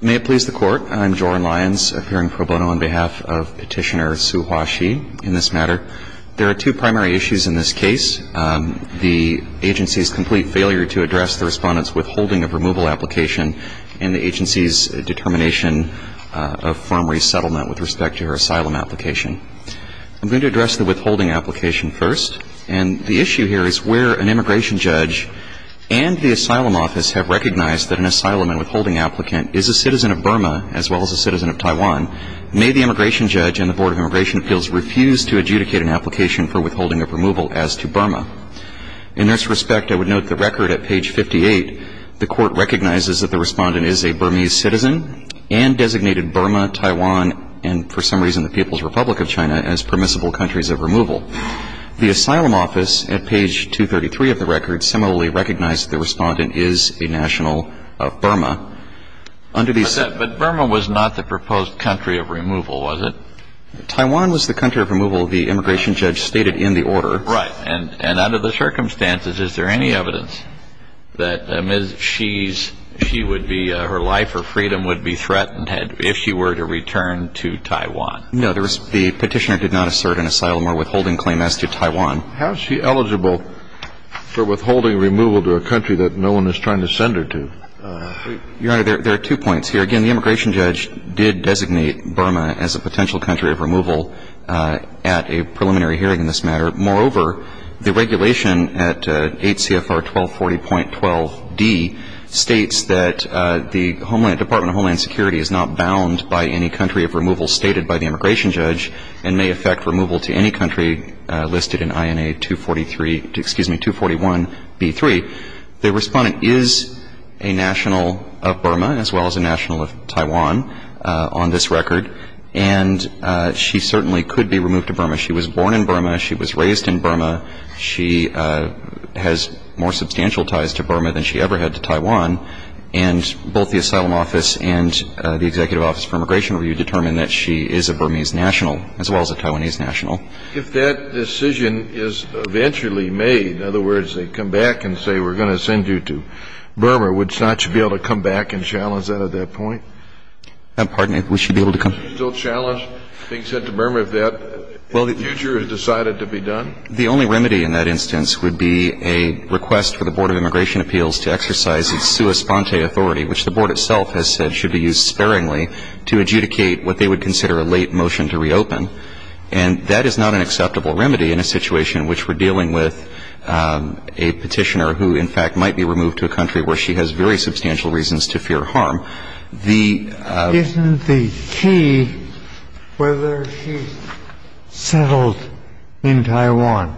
May it please the Court, I'm Joran Lyons, appearing pro bono on behalf of Petitioner Sue Hwashee in this matter. There are two primary issues in this case. The agency's complete failure to address the Respondent's withholding of removal application and the agency's determination of former resettlement with respect to her asylum application. I'm going to address the withholding application first. And the issue here is where an applicant is a citizen of Burma as well as a citizen of Taiwan. May the Immigration Judge and the Board of Immigration Appeals refuse to adjudicate an application for withholding of removal as to Burma. In this respect, I would note the record at page 58, the Court recognizes that the Respondent is a Burmese citizen and designated Burma, Taiwan, and for some reason the People's Republic of China as permissible countries of removal. The But Burma was not the proposed country of removal, was it? Taiwan was the country of removal the Immigration Judge stated in the order. Right. And under the circumstances, is there any evidence that Ms. Hwashee would be, her life or freedom would be threatened if she were to return to Taiwan? No. The Petitioner did not assert an asylum or withholding claim as to Taiwan. How is she eligible for withholding removal to a country that no one is trying to send her to? Your Honor, there are two points here. Again, the Immigration Judge did designate Burma as a potential country of removal at a preliminary hearing in this matter. Moreover, the regulation at 8 CFR 1240.12d states that the Homeland, Department of Homeland Security is not bound by any country of removal stated by the Immigration Judge and may affect removal to any country listed in INA 243, excuse me, 241B3. The Respondent is a national of Burma as well as a national of Taiwan on this record. And she certainly could be removed to Burma. She was born in Burma. She was raised in Burma. She has more substantial ties to Burma than she ever had to Taiwan. And both the Asylum Office and the Executive Office for Immigration Review determined that she is a Burmese national as well as a Taiwanese national. If that decision is eventually made, in other words, they come back and say we're going to send you to Burma, would you not be able to come back and challenge that at that point? Pardon me. We should be able to come back. Would you still challenge being sent to Burma if that in the future is decided to be done? The only remedy in that instance would be a request for the Board of Immigration Appeals to exercise its sua sponte authority, which the Board itself has said should be used sparingly to adjudicate what they would consider a late motion to reopen. And that is not an acceptable remedy in a situation in which we're dealing with a petitioner who, in fact, might be removed to a country where she has very substantial reasons to fear harm. The ---- Isn't the key whether she's settled in Taiwan?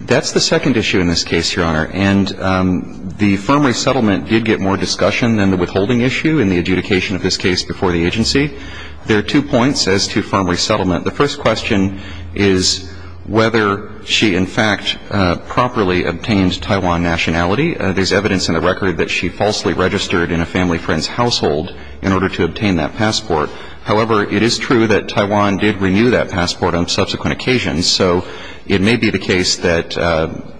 That's the second issue in this case, Your Honor. And the firm resettlement did get more discussion than the withholding issue in the adjudication of this case before the agency. There are two points as to firm resettlement. The first question is whether she, in fact, properly obtained Taiwan nationality. There's evidence in the record that she falsely registered in a family friend's household in order to obtain that passport. However, it is true that Taiwan did renew that passport on subsequent occasions, so it may be the case that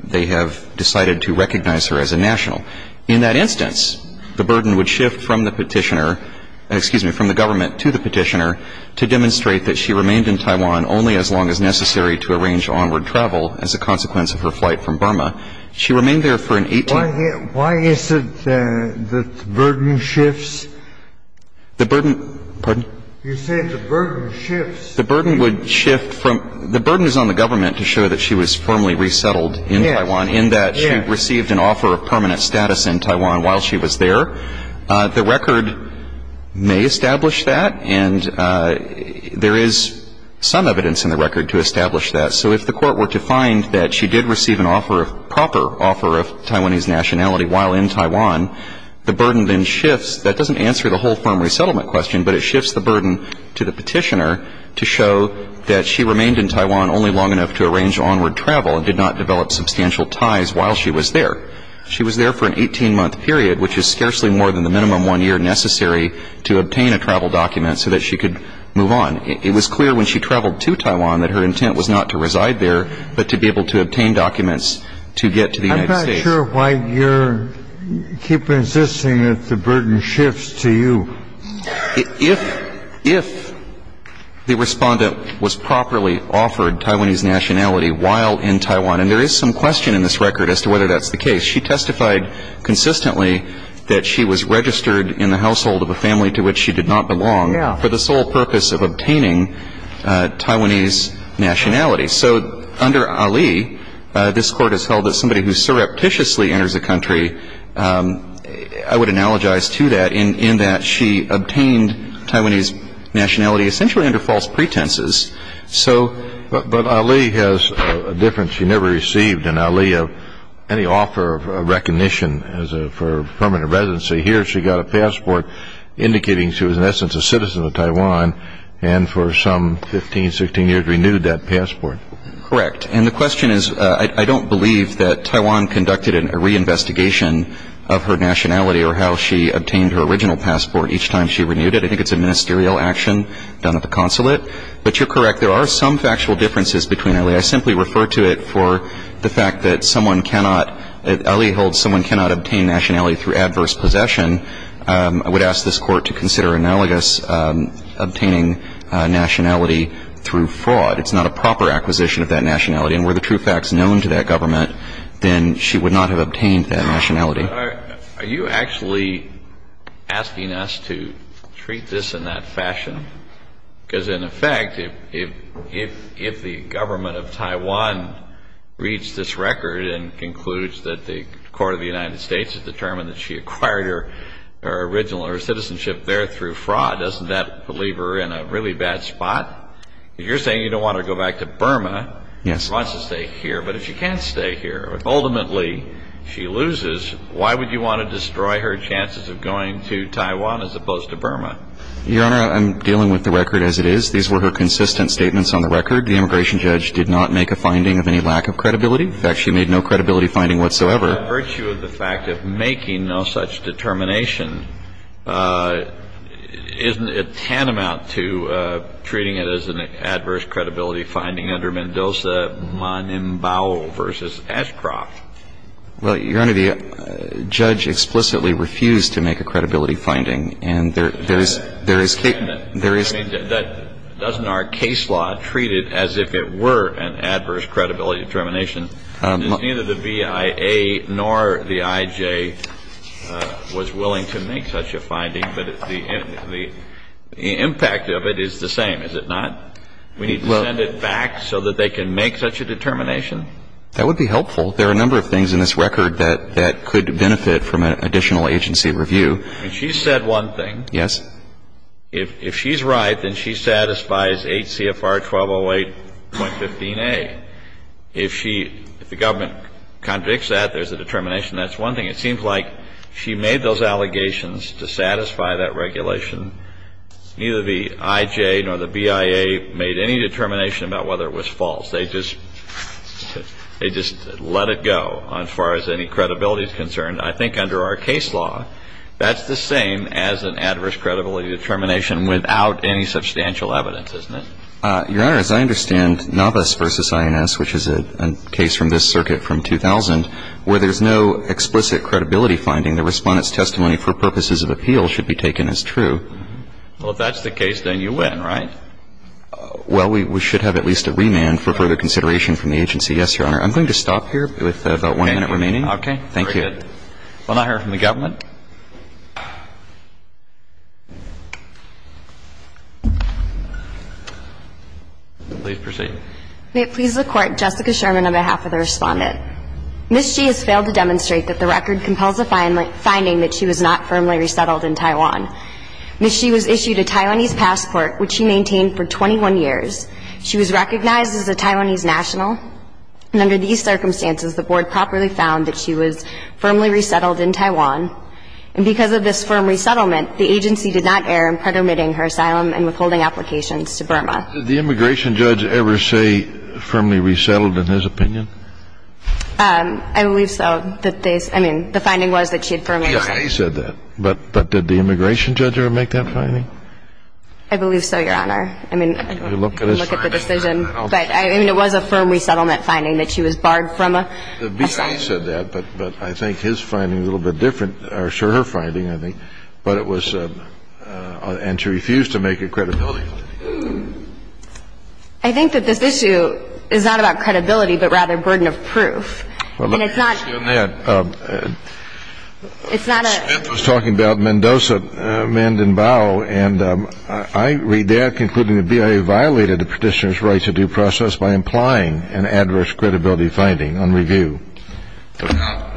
they have decided to recognize her as a national. In that instance, the burden would shift from the petitioner ---- excuse me, from the government to the petitioner to demonstrate that she remained in Taiwan only as long as necessary to arrange onward travel as a consequence of her flight from Burma. She remained there for an 18 ---- Why is it that the burden shifts? The burden ---- Pardon? You said the burden shifts. The burden would shift from ---- the burden is on the government to show that she was firmly resettled in Taiwan, in that she received an offer of permanent status in Taiwan while she was there. The record may establish that, and there is some evidence in the record to establish that. So if the Court were to find that she did receive an offer of proper offer of Taiwanese nationality while in Taiwan, the burden then shifts. That doesn't answer the whole firm resettlement question, but it shifts the burden to the petitioner to show that she remained in Taiwan only long enough to arrange onward travel and did not develop substantial ties while she was there. She was there for an 18-month period, which is scarcely more than the minimum one year necessary to obtain a travel document so that she could move on. It was clear when she traveled to Taiwan that her intent was not to reside there, but to be able to obtain documents to get to the United States. I'm not sure why you're ---- keep insisting that the burden shifts to you. If the respondent was properly offered Taiwanese nationality while in Taiwan, and there is some question in this record as to whether that's the case, she testified consistently that she was registered in the household of a family to which she did not belong for the sole purpose of obtaining Taiwanese nationality. So under Ali, this Court has held that somebody who surreptitiously enters a country ---- I would analogize to that in that she obtained Taiwanese nationality essentially under false pretenses. But Ali has a difference. She never received an Ali of any offer of recognition for permanent residency. Here she got a passport indicating she was in essence a citizen of Taiwan and for some 15, 16 years renewed that passport. Correct. And the question is I don't believe that Taiwan conducted a reinvestigation of her nationality or how she obtained her original passport each time she renewed it. I think it's a ministerial action done at the consulate. But you're correct. There are some factual differences between Ali. I simply refer to it for the fact that someone cannot ---- Ali holds someone cannot obtain nationality through adverse possession. I would ask this Court to consider analogous obtaining nationality through fraud. It's not a proper acquisition of that nationality. And were the true facts known to that government, then she would not have obtained that nationality. Are you actually asking us to treat this in that fashion? Because, in effect, if the government of Taiwan reads this record and concludes that the court of the United States has determined that she acquired her original citizenship there through fraud, doesn't that leave her in a really bad spot? If you're saying you don't want her to go back to Burma, she wants to stay here. But if she can't stay here, if ultimately she loses, why would you want to destroy her chances of going to Taiwan as opposed to Burma? Your Honor, I'm dealing with the record as it is. These were her consistent statements on the record. The immigration judge did not make a finding of any lack of credibility. In fact, she made no credibility finding whatsoever. By virtue of the fact of making no such determination, isn't it tantamount to Well, Your Honor, the judge explicitly refused to make a credibility finding. And there is case law treated as if it were an adverse credibility determination. Neither the BIA nor the IJ was willing to make such a finding. But the impact of it is the same, is it not? We need to send it back so that they can make such a determination? That would be helpful. There are a number of things in this record that could benefit from an additional agency review. She said one thing. Yes. If she's right, then she satisfies 8 CFR 1208.15a. If the government contradicts that, there's a determination. That's one thing. It seems like she made those allegations to satisfy that regulation. Neither the IJ nor the BIA made any determination about whether it was false. They just let it go as far as any credibility is concerned. I think under our case law, that's the same as an adverse credibility determination without any substantial evidence, isn't it? Your Honor, as I understand, Navas v. INS, which is a case from this circuit from 2000, where there's no explicit credibility finding, the Respondent's testimony for purposes of appeal should be taken as true. Well, if that's the case, then you win, right? Well, we should have at least a remand for further consideration from the agency. Yes, Your Honor. I'm going to stop here with about one minute remaining. Okay. Thank you. Very good. We'll now hear from the government. Please proceed. May it please the Court, Jessica Sherman on behalf of the Respondent. Ms. Xi has failed to demonstrate that the record compels a finding that she was not firmly resettled in Taiwan. Ms. Xi was issued a Taiwanese passport, which she maintained for 21 years. She was recognized as a Taiwanese national. And under these circumstances, the Board properly found that she was firmly resettled in Taiwan. And because of this firm resettlement, the agency did not err in pretermitting her asylum and withholding applications to Burma. Did the immigration judge ever say firmly resettled in his opinion? I believe so. I mean, the finding was that she had firmly resettled. The BIA said that. But did the immigration judge ever make that finding? I believe so, Your Honor. I mean, I don't look at the decision. But, I mean, it was a firm resettlement finding that she was barred from asylum. The BIA said that, but I think his finding is a little bit different. Or, sure, her finding, I think. But it was, and she refused to make a credibility finding. I think that this issue is not about credibility, but rather burden of proof. Well, let me ask you on that. It's not a – Smith was talking about Mendoza, Mendenbough, and I read there concluding the BIA violated the petitioner's right to due process by implying an adverse credibility finding on review,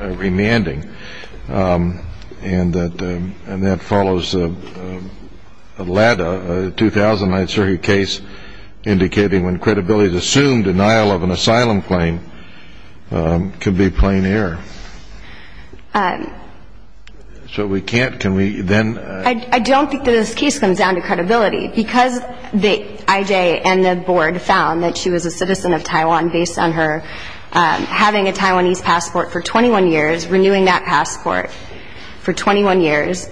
remanding. And that follows a LADA, a 2009 circuit case, indicating when credibility is assumed, denial of an asylum claim can be plain error. So we can't – can we then – I don't think that this case comes down to credibility. Because the IJ and the board found that she was a citizen of Taiwan based on her having a Taiwanese passport for 21 years, renewing that passport for 21 years,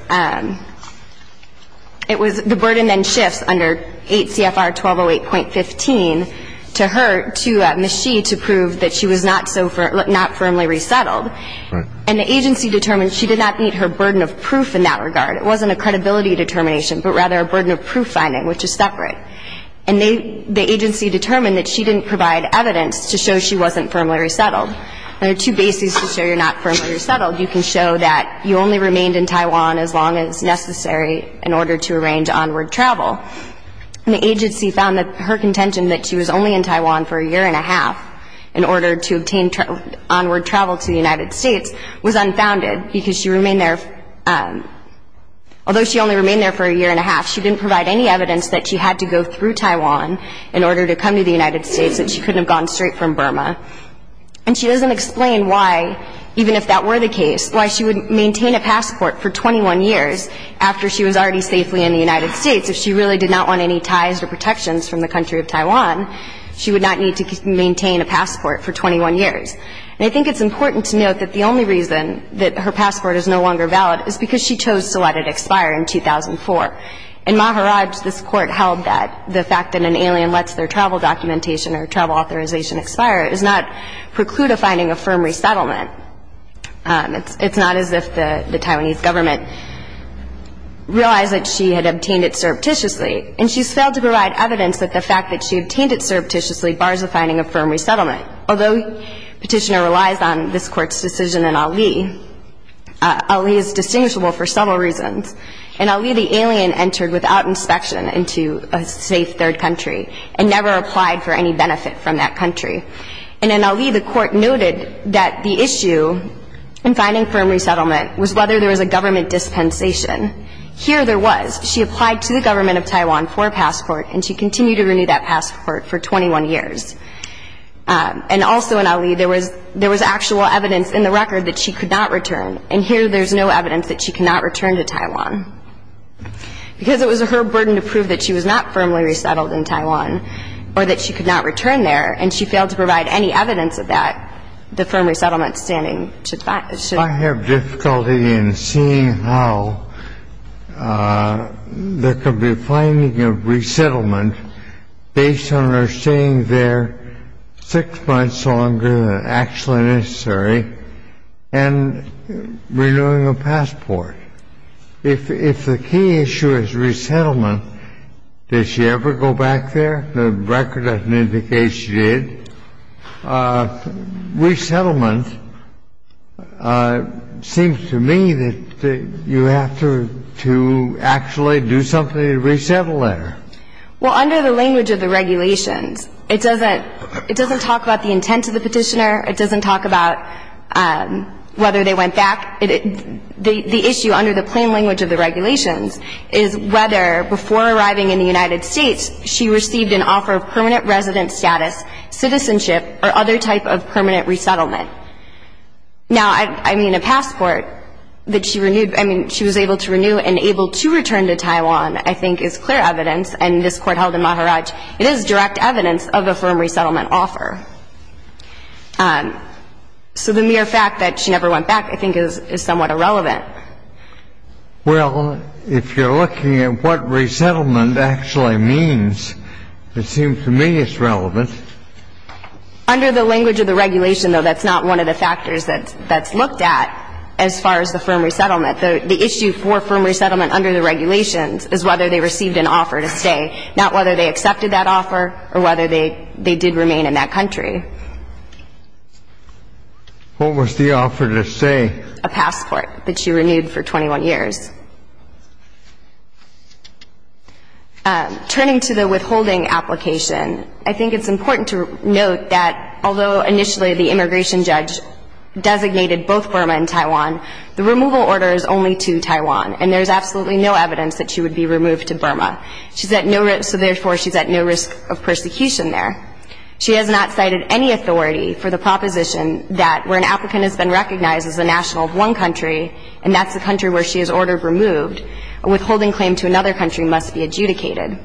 it was – the burden then shifts under 8 CFR 1208.15 to her, to Ms. Shi, to prove that she was not so – not firmly resettled. And the agency determined she did not meet her burden of proof in that regard. It wasn't a credibility determination, but rather a burden of proof finding, which is separate. And they – the agency determined that she didn't provide evidence to show she wasn't firmly resettled. There are two bases to show you're not firmly resettled. You can show that you only remained in Taiwan as long as necessary in order to arrange onward travel. And the agency found that her contention that she was only in Taiwan for a year and a half in order to obtain onward travel to the United States was unfounded, because she remained there – although she only remained there for a year and a half, she didn't provide any evidence that she had to go through Taiwan in order to come to the United States, that she couldn't have gone straight from Burma. And she doesn't explain why, even if that were the case, why she would maintain a passport for 21 years after she was already safely in the United States if she really did not want any ties or protections from the country of Taiwan. She would not need to maintain a passport for 21 years. And I think it's important to note that the only reason that her passport is no longer valid is because she chose to let it expire in 2004. In Maharaj, this Court held that the fact that an alien lets their travel documentation or travel authorization expire does not preclude a finding of firm resettlement. It's not as if the Taiwanese government realized that she had obtained it surreptitiously. And she's failed to provide evidence that the fact that she obtained it surreptitiously bars a finding of firm resettlement. Although Petitioner relies on this Court's decision in Ali, Ali is distinguishable for several reasons. In Ali, the alien entered without inspection into a safe third country and never applied for any benefit from that country. And in Ali, the Court noted that the issue in finding firm resettlement was whether there was a government dispensation. Here there was. She applied to the government of Taiwan for a passport, and she continued to renew that passport for 21 years. And also in Ali, there was actual evidence in the record that she could not return, and here there's no evidence that she could not return to Taiwan because it was her burden to prove that she was not firmly resettled in Taiwan or that she could not return there. And she failed to provide any evidence of that, the firm resettlement standing. I have difficulty in seeing how there could be a finding of resettlement based on her staying there six months longer than actually necessary and renewing a passport. If the key issue is resettlement, does she ever go back there? The record doesn't indicate she did. Resettlement seems to me that you have to actually do something to resettle her. Well, under the language of the regulations, it doesn't talk about the intent of the petitioner. It doesn't talk about whether they went back. The issue under the plain language of the regulations is whether before arriving in the United States, she received an offer of permanent resident status, citizenship, or other type of permanent resettlement. Now, I mean, a passport that she was able to renew and able to return to Taiwan, I think is clear evidence, and this Court held in Maharaj, it is direct evidence of a firm resettlement offer. So the mere fact that she never went back I think is somewhat irrelevant. Well, if you're looking at what resettlement actually means, it seems to me it's relevant. Under the language of the regulation, though, that's not one of the factors that's looked at as far as the firm resettlement. The issue for firm resettlement under the regulations is whether they received an offer to stay, not whether they accepted that offer or whether they did remain in that country. What was the offer to stay? A passport that she renewed for 21 years. Turning to the withholding application, I think it's important to note that although initially the immigration judge designated both Burma and Taiwan, the removal order is only to Taiwan, and there's absolutely no evidence that she would be removed to Burma. She's at no risk, so therefore she's at no risk of persecution there. She has not cited any authority for the proposition that where an applicant has been recognized as a national of one country, and that's the country where she is ordered removed, a withholding claim to another country must be adjudicated.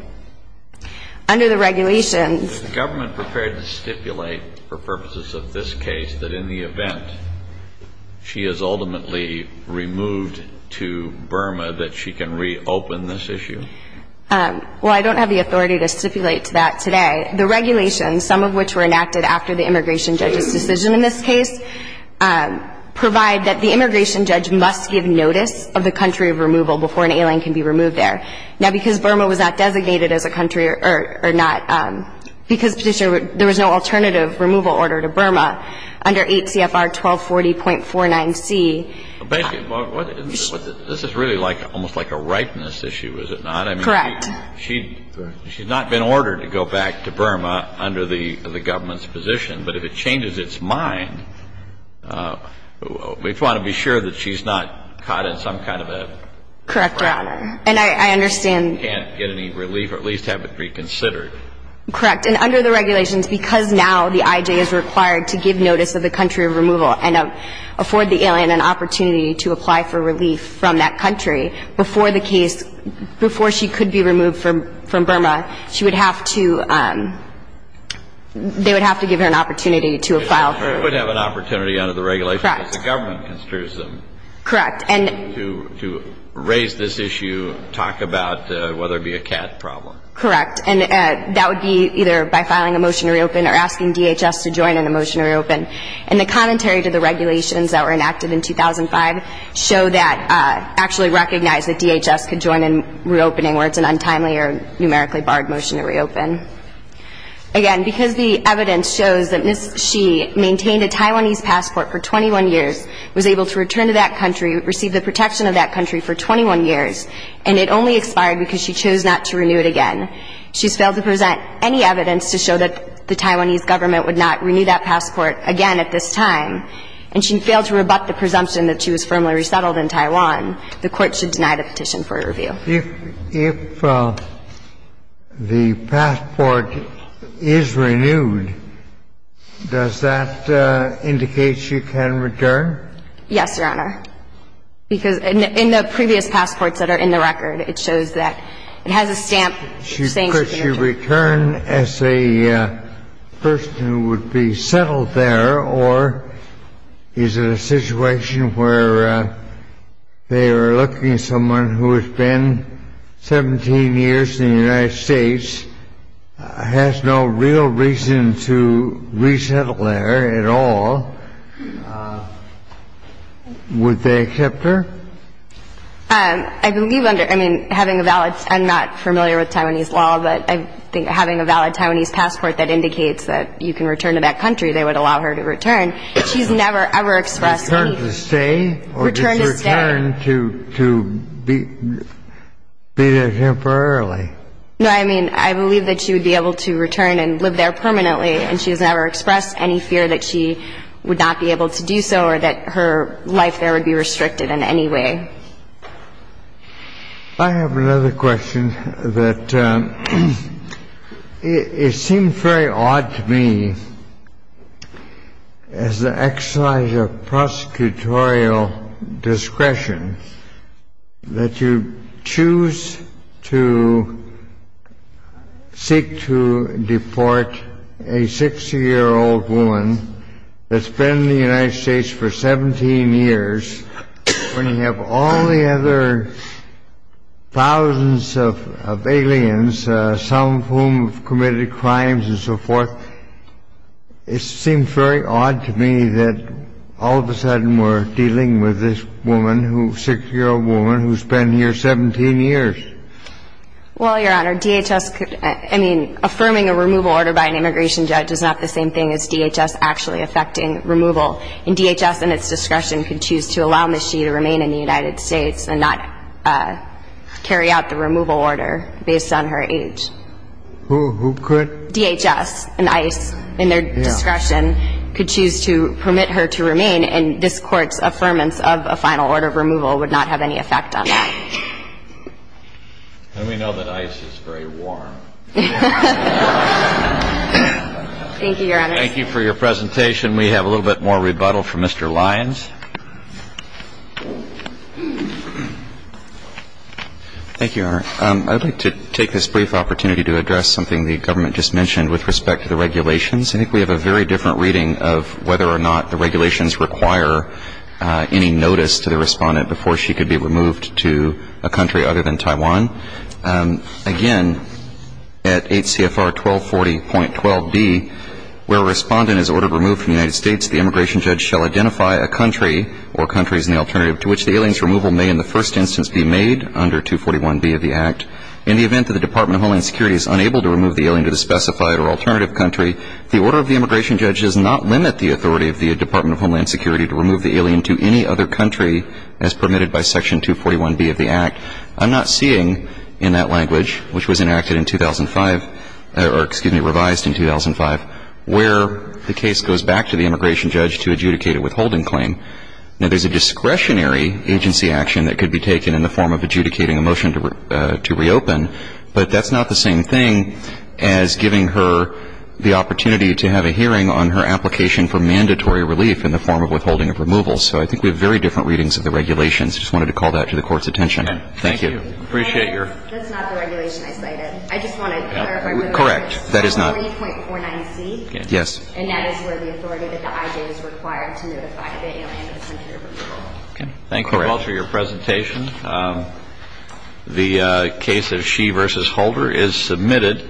Under the regulations the government prepared to stipulate for purposes of this case that in the event she is ultimately removed to Burma that she can reopen this issue? Well, I don't have the authority to stipulate to that today. The regulations, some of which were enacted after the immigration judge's decision in this case, provide that the immigration judge must give notice of the country of removal before an alien can be removed there. Now, because Burma was not designated as a country or not, because there was no alternative removal order to Burma under 8 CFR 1240.49C. This is really like almost like a ripeness issue, is it not? Correct. She's not been ordered to go back to Burma under the government's position. But if it changes its mind, we want to be sure that she's not caught in some kind of a ripeness. Correct, Your Honor. And I understand. Can't get any relief or at least have it reconsidered. Correct. And under the regulations, because now the I.J. is required to give notice of the country of removal and afford the alien an opportunity to apply for relief from that country before the case before she could be removed from Burma, she would have to they would have to give her an opportunity to apply. She would have an opportunity under the regulations because the government construes them. Correct. And to raise this issue, talk about whether it be a cat problem. Correct. And that would be either by filing a motion to reopen or asking DHS to join in a motion to reopen. And the commentary to the regulations that were enacted in 2005 show that actually recognized that DHS could join in reopening where it's an untimely or numerically barred motion to reopen. Again, because the evidence shows that Ms. Shi maintained a Taiwanese passport for 21 years, was able to return to that country, receive the protection of that country for 21 years, and it only expired because she chose not to renew it again, she's failed to present any evidence to show that the Taiwanese government would not renew that passport again at this time, and she failed to rebut the presumption that she was firmly resettled in Taiwan, the Court should deny the petition for a review. If the passport is renewed, does that indicate she can return? Yes, Your Honor. Because in the previous passports that are in the record, it shows that it has a stamp saying she can return. Could she return as a person who would be settled there, or is it a situation where they are looking at someone who has been 17 years in the United States, has no real reason to resettle there at all? Would they accept her? I believe under – I mean, having a valid – I'm not familiar with Taiwanese law, but I think having a valid Taiwanese passport that indicates that you can return to that country, they would allow her to return. She's never, ever expressed any – Return to stay? Return to stay. Or just return to be there temporarily? No, I mean, I believe that she would be able to return and live there permanently, and she has never expressed any fear that she would not be able to do so or that her life there would be restricted in any way. I have another question that it seems very odd to me, as an exercise of prosecutorial discretion, that you choose to seek to deport a 60-year-old woman that's been in the United States for 17 years, when you have all the other thousands of aliens, some of whom have committed crimes and so forth. It seems very odd to me that all of a sudden we're dealing with this woman, 60-year-old woman, who's been here 17 years. Well, Your Honor, DHS could – I mean, affirming a removal order by an immigration judge is not the same thing as DHS actually effecting removal. And DHS, in its discretion, could choose to allow Ms. Xi to remain in the United States and not carry out the removal order based on her age. Who could? DHS and ICE, in their discretion, could choose to permit her to remain and this Court's affirmance of a final order of removal would not have any effect on that. And we know that ICE is very warm. Thank you, Your Honor. Thank you for your presentation. We have a little bit more rebuttal from Mr. Lyons. Thank you, Your Honor. I'd like to take this brief opportunity to address something the government just mentioned with respect to the regulations. I think we have a very different reading of whether or not the regulations require any notice to the respondent before she could be removed to a country other than Taiwan. Again, at 8 CFR 1240.12b, where a respondent is ordered removed from the United States, the immigration judge shall identify a country or countries in the alternative to which the alien's removal may in the first instance be made under 241b of the Act. In the event that the Department of Homeland Security is unable to remove the alien to the specified or alternative country, the order of the immigration judge does not limit the authority of the Department of Homeland Security to remove the alien to any other country as permitted by Section 241b of the Act. I'm not seeing in that language, which was enacted in 2005, or excuse me, revised in 2005, where the case goes back to the immigration judge to adjudicate a withholding claim. Now, there's a discretionary agency action that could be taken in the form of adjudicating a motion to reopen, but that's not the same thing as giving her the opportunity to have a hearing on her application for mandatory relief in the form of withholding of removal. So I think we have very different readings of the regulations. I just wanted to call that to the Court's attention. Thank you. Thank you. And that's not the regulation I cited. I just want to clarify. Correct. That is not. 40.49c. Yes. And that is where the authority that the IJ is required to notify the alien of a country of removal. Okay. Thank you all for your presentation. The case of She v. Holder is submitted.